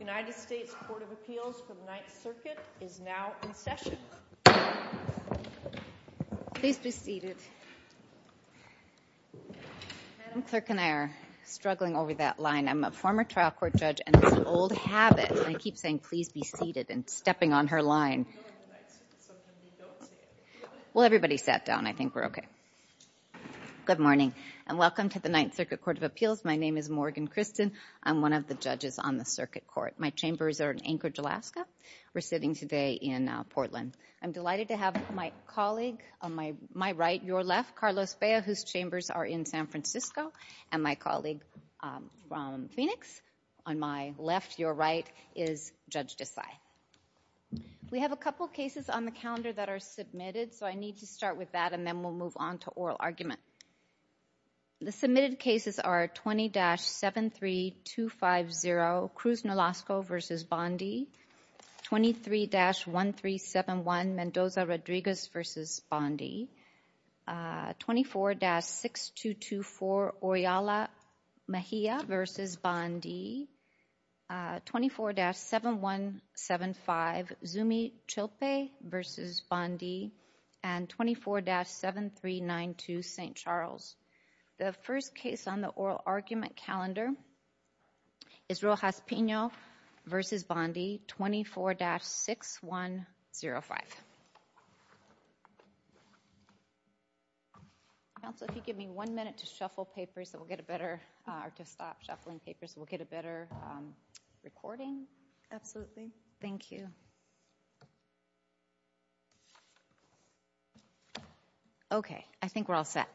United States Court of Appeals for the Ninth Circuit is now in session. Please be seated. Madam Clerk and I are struggling over that line. I'm a former trial court judge and it's an old habit. I keep saying, please be seated and stepping on her line. Well, everybody sat down. I think we're okay. Good morning and welcome to the Ninth Circuit Court of Appeals. My name is Morgan Christen. I'm one of the judges on the circuit court. My chambers are in Anchorage, Alaska. We're sitting today in Portland. I'm delighted to have my colleague on my right, your left, Carlos Bea, whose chambers are in San Francisco, and my colleague from Phoenix on my left, your right, is Judge Desai. We have a couple cases on the calendar that are submitted, so I need to start with that and then we'll move on to oral argument. The submitted cases are 20-73250 Cruz-Nolasco v. Bondi, 23-1371 Mendoza-Rodriguez v. Bondi, The first case on the oral argument calendar is Rojas-Pino v. Bondi, 24-6105. Counsel, if you give me one minute to stop shuffling papers, we'll get a better recording. Absolutely. Thank you. Okay. I think we're all set.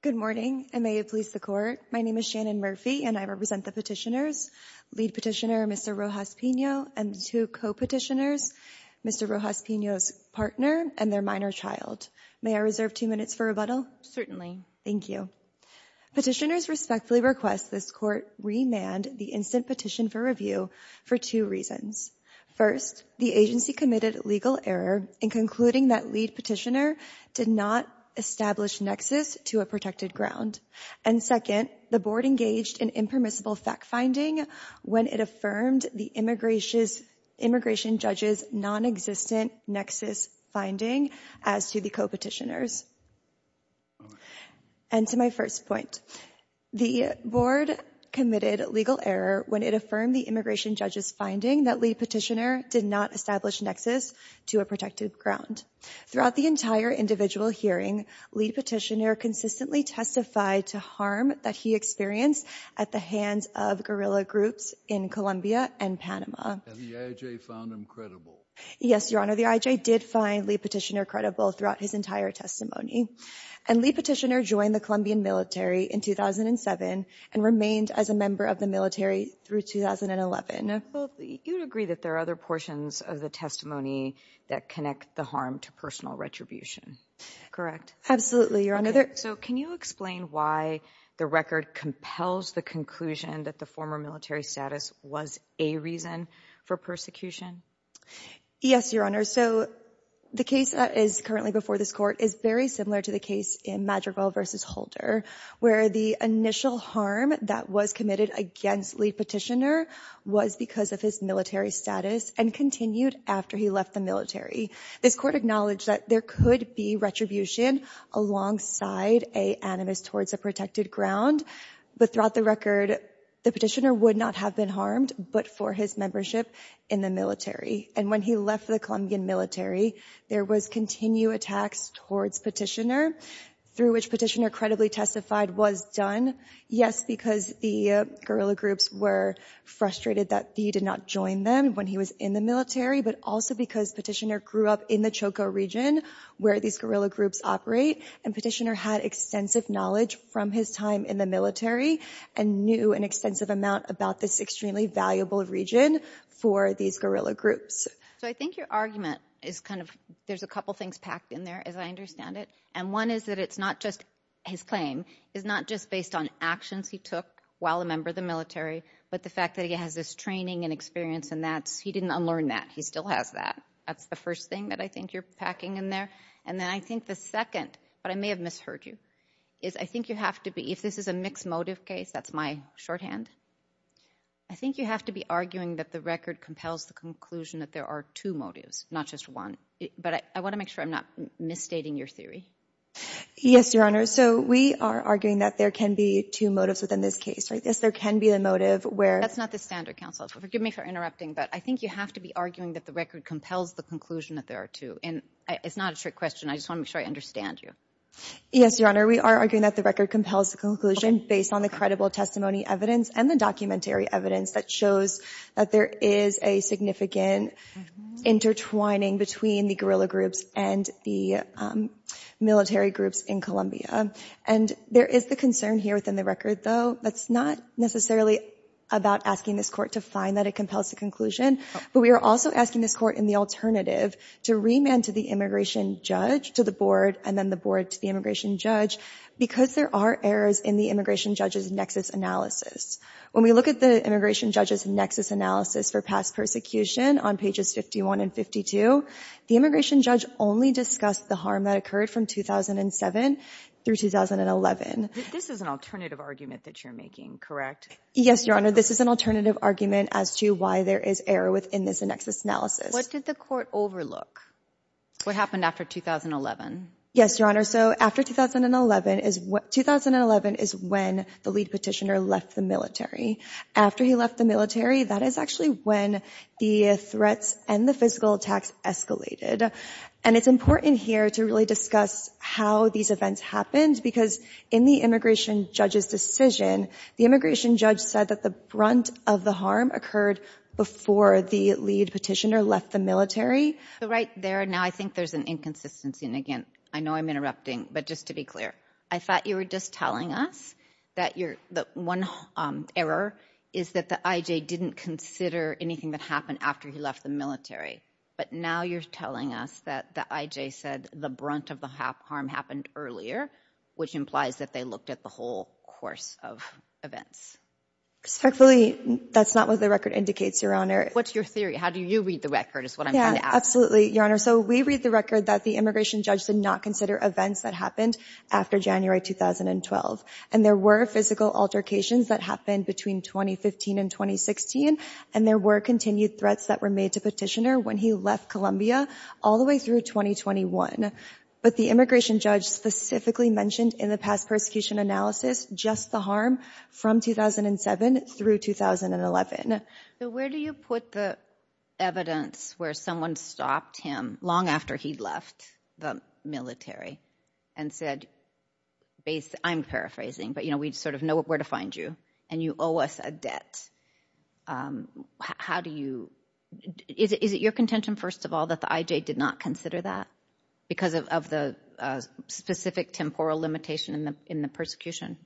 Good morning, and may it please the Court. My name is Shannon Murphy, and I represent the petitioners, lead petitioner Mr. Rojas-Pino and the two co-petitioners, Mr. Rojas-Pino's partner and their minor child. May I reserve two minutes for rebuttal? Certainly. Thank you. Petitioners respectfully request this Court remand the instant petition for review for two reasons. First, the agency committed legal error in concluding that lead petitioner did not establish nexus to a protected ground. And second, the Board engaged in impermissible fact-finding when it affirmed the immigration judge's non-existent nexus finding as to the co-petitioners. And to my first point, the Board committed legal error when it affirmed the immigration judge's finding that lead petitioner did not establish nexus to a protected ground. Throughout the entire individual hearing, lead petitioner consistently testified to harm that he experienced at the hands of guerrilla groups in Colombia and Panama. And the IJ found him credible? Yes, Your Honor, the IJ did find lead petitioner credible throughout his entire testimony. And lead petitioner joined the Colombian military in 2007 and remained as a member of the military through 2011. Now, you would agree that there are other portions of the testimony that connect the harm to personal retribution, correct? Absolutely, Your Honor. So can you explain why the record compels the conclusion that the former military status was a reason for persecution? Yes, Your Honor. So the case that is currently before this Court is very similar to the case in Madrigal v. Holder, where the initial harm that was committed against lead petitioner was because of his military status and continued after he left the military. This Court acknowledged that there could be retribution alongside a animus towards a protected ground. But throughout the record, the petitioner would not have been harmed but for his membership in the military. And when he left the Colombian military, there was continued attacks towards petitioner, through which petitioner credibly testified was done. Yes, because the guerrilla groups were frustrated that he did not join them when he was in the military, but also because petitioner grew up in the Choco region where these guerrilla groups operate. And petitioner had extensive knowledge from his time in the military and knew an extensive amount about this extremely valuable region for these guerrilla groups. So I think your argument is kind of, there's a couple things packed in there, as I understand it. And one is that it's not just, his claim is not just based on actions he took while a member of the military, but the fact that he has this training and experience and that's, he didn't unlearn that. He still has that. That's the first thing that I think you're packing in there. And then I think the second, but I may have misheard you, is I think you have to be, if this is a mixed motive case, that's my shorthand. I think you have to be arguing that the record compels the conclusion that there are two motives, not just one. But I want to make sure I'm not misstating your theory. Yes, Your Honor. So we are arguing that there can be two motives within this case, right? Yes, there can be a motive where… That's not the standard, counsel. Forgive me for interrupting, but I think you have to be arguing that the record compels the conclusion that there are two. And it's not a trick question. I just want to make sure I understand you. Yes, Your Honor. We are arguing that the record compels the conclusion based on the credible testimony evidence and the documentary evidence that shows that there is a significant intertwining between the guerrilla groups and the military groups in Colombia. And there is the concern here within the record, though, that's not necessarily about asking this court to find that it compels the conclusion. But we are also asking this court in the alternative to remand to the immigration judge, to the board, and then the board to the immigration judge because there are errors in the immigration judge's nexus analysis. When we look at the immigration judge's nexus analysis for past persecution on pages 51 and 52, the immigration judge only discussed the harm that occurred from 2007 through 2011. This is an alternative argument that you're making, correct? What did the court overlook? What happened after 2011? Yes, Your Honor. So after 2011 is when the lead petitioner left the military. After he left the military, that is actually when the threats and the physical attacks escalated. And it's important here to really discuss how these events happened because in the immigration judge's decision, the immigration judge said that the brunt of the harm occurred before the lead petitioner left the military. Right there, now, I think there's an inconsistency. And again, I know I'm interrupting, but just to be clear, I thought you were just telling us that one error is that the IJ didn't consider anything that happened after he left the military. But now you're telling us that the IJ said the brunt of the harm happened earlier, which implies that they looked at the whole course of events. Respectfully, that's not what the record indicates, Your Honor. What's your theory? How do you read the record is what I'm trying to ask. Yeah, absolutely, Your Honor. So we read the record that the immigration judge did not consider events that happened after January 2012. And there were physical altercations that happened between 2015 and 2016. And there were continued threats that were made to petitioner when he left Colombia all the way through 2021. But the immigration judge specifically mentioned in the past persecution analysis just the harm from 2007 through 2011. So where do you put the evidence where someone stopped him long after he left the military and said, I'm paraphrasing, but, you know, we sort of know where to find you and you owe us a debt. How do you is it your contention, first of all, that the IJ did not consider that because of the specific temporal limitation in the in the persecution?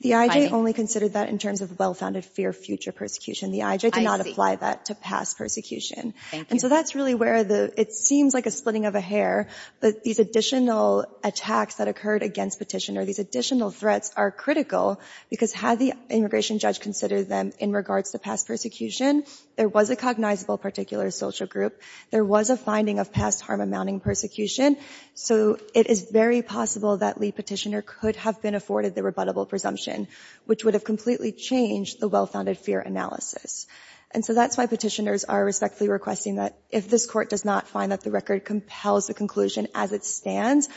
The IJ only considered that in terms of well-founded fear future persecution. The IJ did not apply that to past persecution. And so that's really where the it seems like a splitting of a hair. But these additional attacks that occurred against petitioner, these additional threats are critical because had the immigration judge considered them in regards to past persecution, there was a cognizable particular social group. There was a finding of past harm amounting persecution. So it is very possible that the petitioner could have been afforded the rebuttable presumption, which would have completely changed the well-founded fear analysis. And so that's why petitioners are respectfully requesting that if this court does not find that the record compels the conclusion as it stands,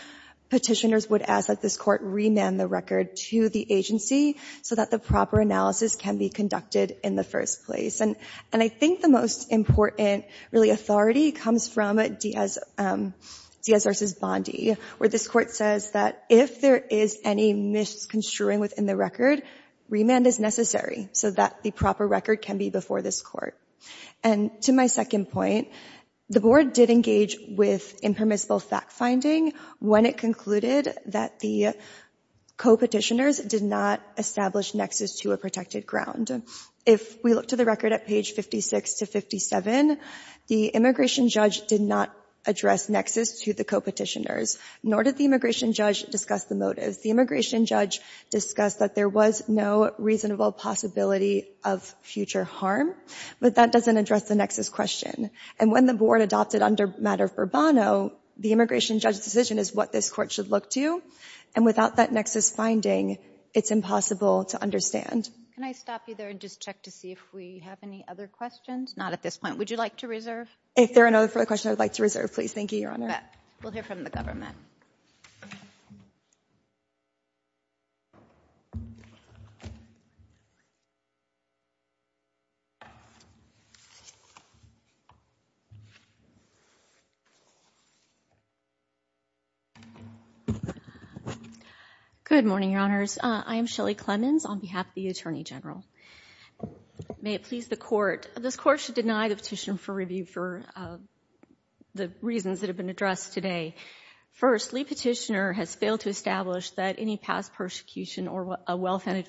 petitioners would ask that this court remand the record to the agency so that the proper analysis can be conducted in the first place. And I think the most important really authority comes from Diaz versus Bondi, where this court says that if there is any misconstruing within the record, remand is necessary so that the proper record can be before this court. And to my second point, the board did engage with impermissible fact finding when it concluded that the co-petitioners did not establish nexus to a protected ground. If we look to the record at page 56 to 57, the immigration judge did not address nexus to the co-petitioners, nor did the immigration judge discuss the motives. The immigration judge discussed that there was no reasonable possibility of future harm, but that doesn't address the nexus question. And when the board adopted under matter of Burbano, the immigration judge's decision is what this court should look to. And without that nexus finding, it's impossible to understand. Can I stop you there and just check to see if we have any other questions? Not at this point. Would you like to reserve? If there are no further questions, I would like to reserve, please. Thank you, Your Honor. We'll hear from the government. Good morning, Your Honors. I am Shelley Clemons on behalf of the Attorney General. May it please the Court, this Court should deny the petition for review for the reasons that have been addressed today. First, Lee Petitioner has failed to establish that any past persecution or a well-founded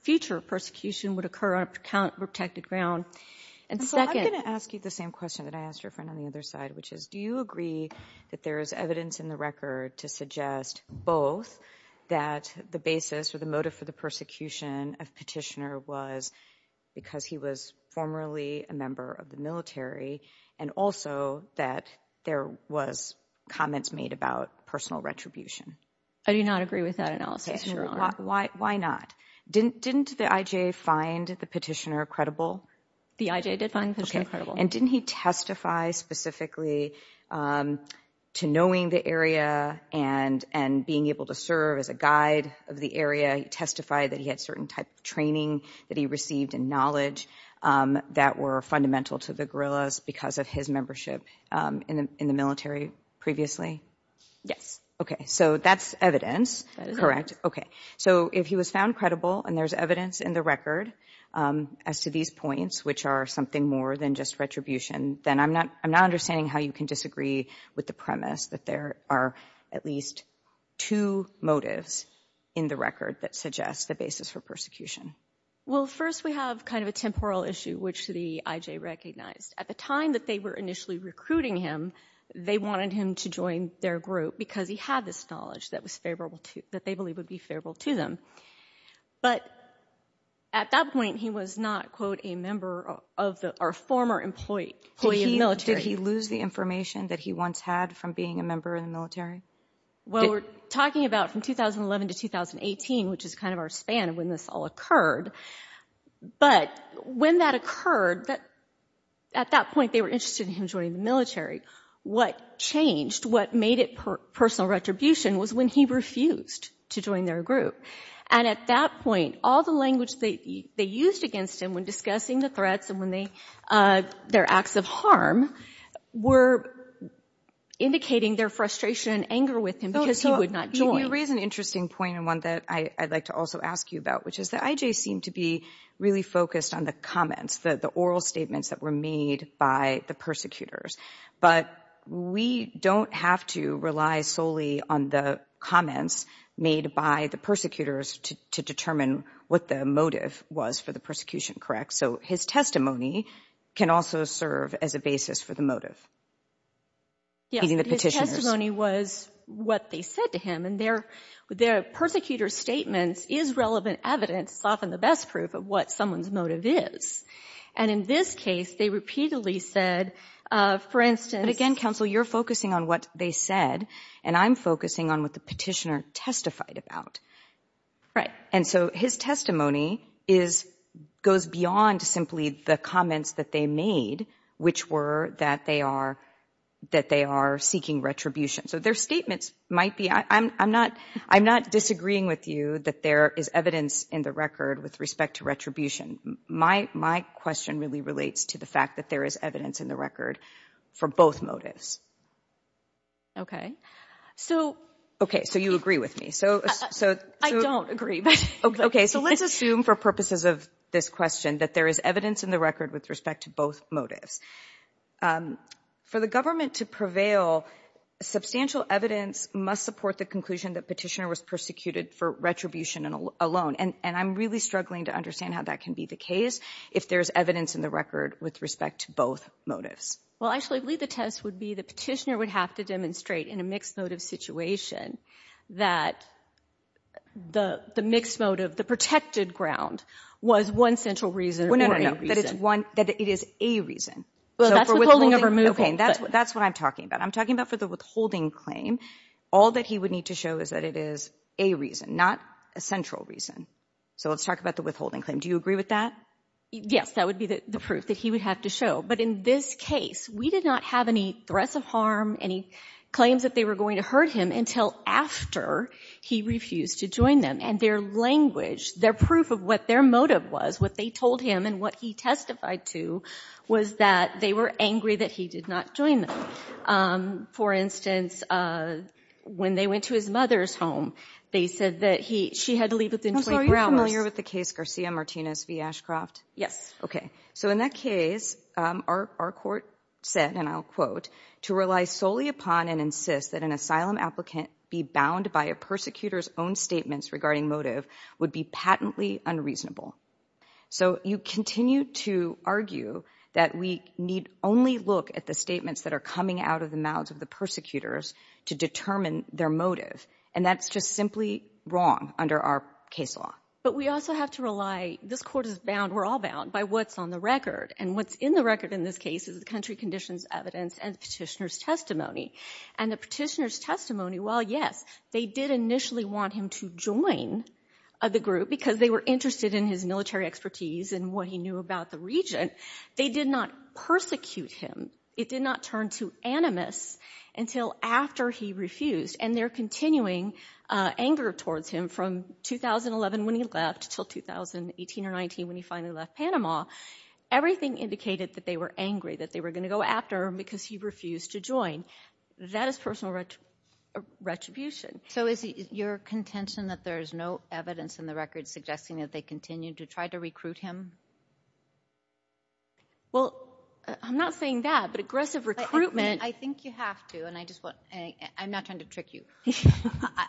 future persecution would occur on a protected ground. And second — I'm going to ask you the same question that I asked your friend on the other side, which is, do you agree that there is evidence in the record to suggest both that the basis or the motive for the persecution of Petitioner was because he was formerly a member of the military, and also that there was comments made about personal retribution? I do not agree with that analysis, Your Honor. Why not? Didn't the I.J. find the Petitioner credible? The I.J. did find Petitioner credible. And didn't he testify specifically to knowing the area and being able to serve as a guide of the area? He testified that he had certain type of training that he received and knowledge that were fundamental to the guerrillas because of his membership in the military previously? Yes. Okay, so that's evidence, correct? That is evidence. And there's evidence in the record as to these points, which are something more than just retribution. Then I'm not understanding how you can disagree with the premise that there are at least two motives in the record that suggest the basis for persecution. Well, first we have kind of a temporal issue, which the I.J. recognized. At the time that they were initially recruiting him, they wanted him to join their group because he had this knowledge that was favorable to — that they believed would be favorable to them. But at that point, he was not, quote, a member of our former employee of the military. Did he lose the information that he once had from being a member in the military? Well, we're talking about from 2011 to 2018, which is kind of our span of when this all occurred. But when that occurred, at that point they were interested in him joining the military. What changed, what made it personal retribution was when he refused to join their group. And at that point, all the language they used against him when discussing the threats and when they — their acts of harm were indicating their frustration and anger with him because he would not join. You raise an interesting point and one that I'd like to also ask you about, which is the I.J. seemed to be really focused on the comments, the oral statements that were made by the persecutors. But we don't have to rely solely on the comments made by the persecutors to determine what the motive was for the persecution, correct? So his testimony can also serve as a basis for the motive? Yes, his testimony was what they said to him. And their persecutor's statements is relevant evidence, often the best proof of what someone's motive is. And in this case, they repeatedly said, for instance — But again, counsel, you're focusing on what they said and I'm focusing on what the petitioner testified about. Right. And so his testimony is — goes beyond simply the comments that they made, which were that they are seeking retribution. So their statements might be — I'm not disagreeing with you that there is evidence in the record with respect to retribution. My question really relates to the fact that there is evidence in the record for both motives. So — OK, so you agree with me. I don't agree. OK, so let's assume for purposes of this question that there is evidence in the record with respect to both motives. For the government to prevail, substantial evidence must support the conclusion that petitioner was persecuted for retribution alone. And I'm really struggling to understand how that can be the case if there's evidence in the record with respect to both motives. Well, actually, I believe the test would be the petitioner would have to demonstrate in a mixed motive situation that the mixed motive, the protected ground, was one central reason or a reason. Well, no, no, no, that it's one — that it is a reason. So for withholding — Well, that's the holding of removal, but — OK, and that's what I'm talking about. I'm talking about for the withholding claim, all that he would need to show is that it is a reason, not a central reason. So let's talk about the withholding claim. Do you agree with that? Yes, that would be the proof that he would have to show. But in this case, we did not have any threats of harm, any claims that they were going to hurt him until after he refused to join them. And their language, their proof of what their motive was, what they told him and what he testified to, was that they were angry that he did not join them. For instance, when they went to his mother's home, they said that he — she had to leave within 20 minutes. Ms. Howell, are you familiar with the case Garcia-Martinez v. Ashcroft? Yes. OK, so in that case, our court said, and I'll quote, to rely solely upon and insist that an asylum applicant be bound by a persecutor's own statements regarding motive would be patently unreasonable. So you continue to argue that we need only look at the statements that are coming out of the mouths of the persecutors to determine their motive. And that's just simply wrong under our case law. But we also have to rely — this court is bound, we're all bound, by what's on the record. And what's in the record in this case is the country conditions evidence and the petitioner's testimony. And the petitioner's testimony, while, yes, they did initially want him to join the group because they were interested in his military expertise and what he knew about the region, they did not persecute him. It did not turn to animus until after he refused. And they're continuing anger towards him from 2011 when he left until 2018 or 19 when he finally left Panama. Everything indicated that they were angry, that they were going to go after him because he refused to join. That is personal retribution. So is your contention that there is no evidence in the record suggesting that they continued to try to recruit him? Well, I'm not saying that, but aggressive recruitment — I think you have to, and I just want — I'm not trying to trick you.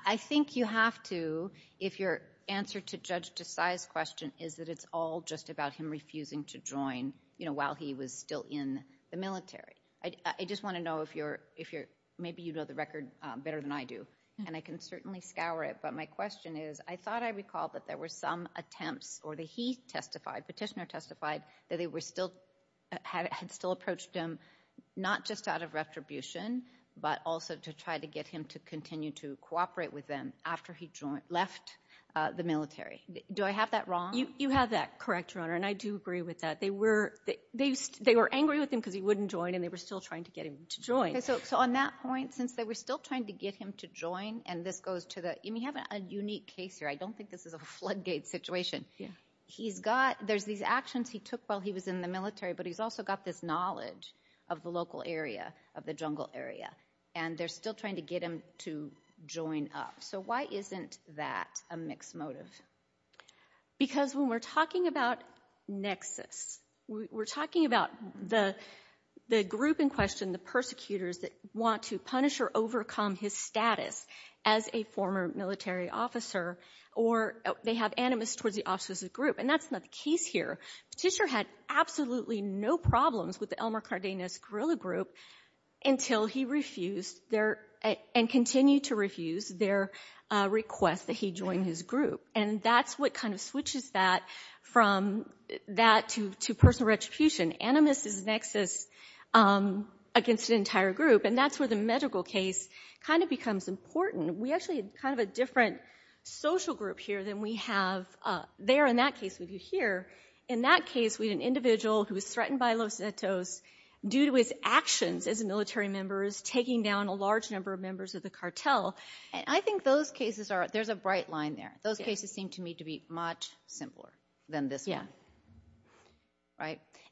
I think you have to if your answer to Judge Desai's question is that it's all just about him refusing to join while he was still in the military. I just want to know if you're — maybe you know the record better than I do. And I can certainly scour it. But my question is, I thought I recalled that there were some attempts or that he testified, petitioner testified, that they were still — had still approached him not just out of retribution, but also to try to get him to continue to cooperate with them after he left the military. Do I have that wrong? You have that correct, Your Honor, and I do agree with that. They were angry with him because he wouldn't join, and they were still trying to get him to join. So on that point, since they were still trying to get him to join, and this goes to the — I mean, you have a unique case here. I don't think this is a floodgate situation. He's got — there's these actions he took while he was in the military, but he's also got this knowledge of the local area, of the jungle area. And they're still trying to get him to join up. So why isn't that a mixed motive? Because when we're talking about nexus, we're talking about the group in question, the persecutors that want to punish or overcome his status as a former military officer, or they have animus towards the officer's group, and that's not the case here. Petitior had absolutely no problems with the Elmer Cardenas guerrilla group until he refused their — and continued to refuse their request that he join his group. And that's what kind of switches that from that to personal retribution. Animus is nexus against an entire group, and that's where the medical case kind of becomes important. We actually have kind of a different social group here than we have there in that case with you here. In that case, we had an individual who was threatened by Los Zetos due to his actions as a military member, taking down a large number of members of the cartel. And I think those cases are — there's a bright line there. Those cases seem to me to be much simpler than this one.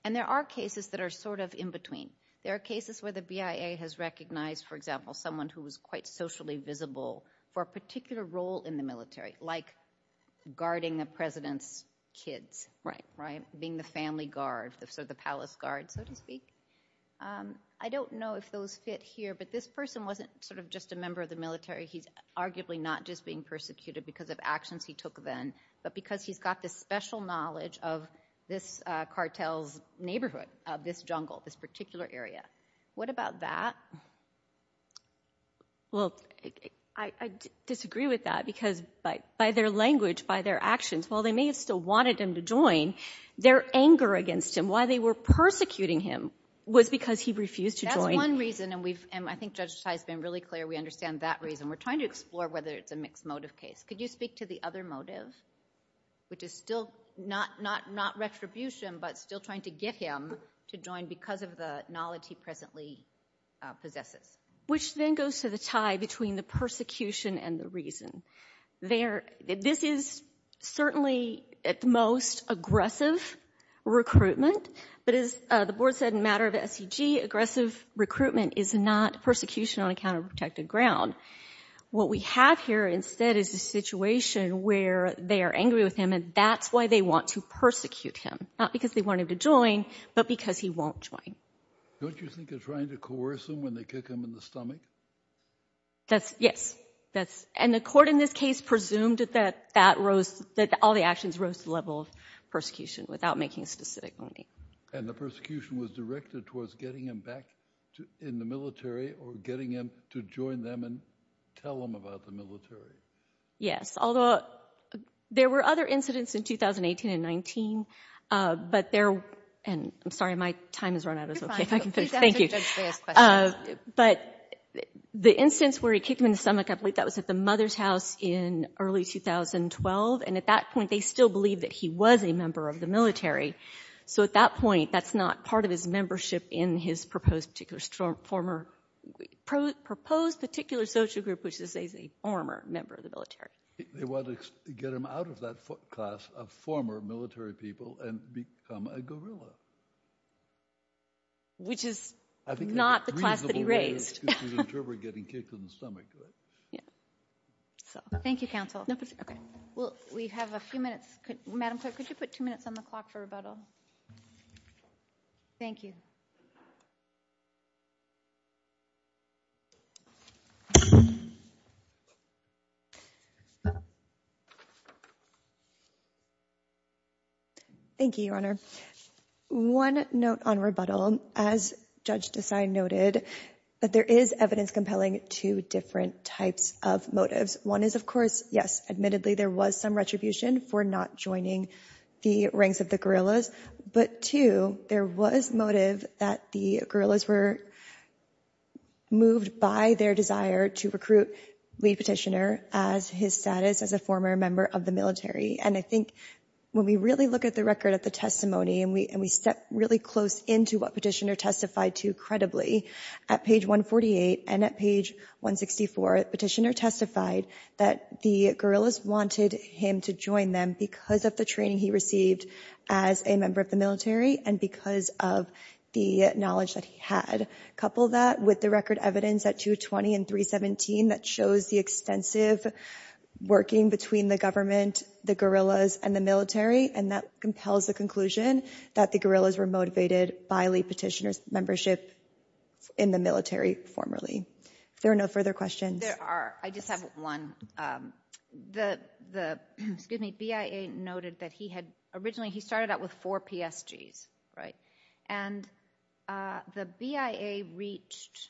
And there are cases that are sort of in between. There are cases where the BIA has recognized, for example, someone who was quite socially visible for a particular role in the military, like guarding the president's kids, being the family guard, sort of the palace guard, so to speak. I don't know if those fit here, but this person wasn't sort of just a member of the military. He's arguably not just being persecuted because of actions he took then, but because he's got this special knowledge of this cartel's neighborhood, of this jungle, this particular area. What about that? Well, I disagree with that because by their language, by their actions, while they may have still wanted him to join, their anger against him, why they were persecuting him was because he refused to join. That's one reason, and I think Judge Tye has been really clear we understand that reason. We're trying to explore whether it's a mixed motive case. Could you speak to the other motive, which is still not retribution, but still trying to get him to join because of the knowledge he presently possesses? Which then goes to the tie between the persecution and the reason. This is certainly, at the most, aggressive recruitment, but as the Board said in the matter of SEG, aggressive recruitment is not persecution on a counter-protective ground. What we have here instead is a situation where they are angry with him, and that's why they want to persecute him, not because they want him to join, but because he won't join. Don't you think they're trying to coerce him when they kick him in the stomach? Yes. And the court in this case presumed that all the actions rose to the level of persecution without making a specific motive. And the persecution was directed towards getting him back in the military or getting him to join them and tell them about the military. Yes, although there were other incidents in 2018 and 2019, but they're – and I'm sorry, my time has run out. It's okay if I can finish. Thank you. But the instance where he kicked him in the stomach, I believe that was at the mother's house in early 2012, and at that point they still believed that he was a member of the military. So at that point that's not part of his membership in his proposed particular social group, which is that he's a former member of the military. They wanted to get him out of that class of former military people and become a guerrilla. Which is not the class that he raised. I think that's a reasonable way of getting kicked in the stomach, right? Yeah. Thank you, counsel. Okay. Well, we have a few minutes. Madam Clerk, could you put two minutes on the clock for rebuttal? Thank you. Thank you, Your Honor. One note on rebuttal. As Judge Desai noted, there is evidence compelling two different types of motives. One is, of course, yes, admittedly there was some retribution for not joining the ranks of the guerrillas. But two, there was motive that the guerrillas were moved by their desire to recruit Lead Petitioner as his status as a former member of the military. And I think when we really look at the record of the testimony, and we step really close into what Petitioner testified to credibly, at page 148 and at page 164 Petitioner testified that the guerrillas wanted him to join them because of the training he received as a member of the military and because of the knowledge that he had. Couple that with the record evidence at 220 and 317 that shows the extensive working between the government, the guerrillas, and the military. And that compels the conclusion that the guerrillas were motivated by Lead Petitioner's membership in the military formerly. If there are no further questions. There are. I just have one. The BIA noted that he had originally, he started out with four PSGs, right? And the BIA reached,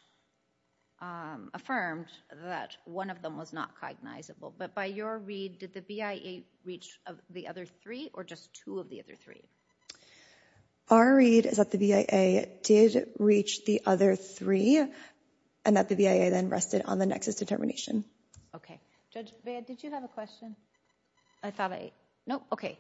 affirmed that one of them was not cognizable. But by your read, did the BIA reach the other three or just two of the other three? Our read is that the BIA did reach the other three and that the BIA then rested on the nexus determination. Okay. Judge Baird, did you have a question? I thought I, nope, okay.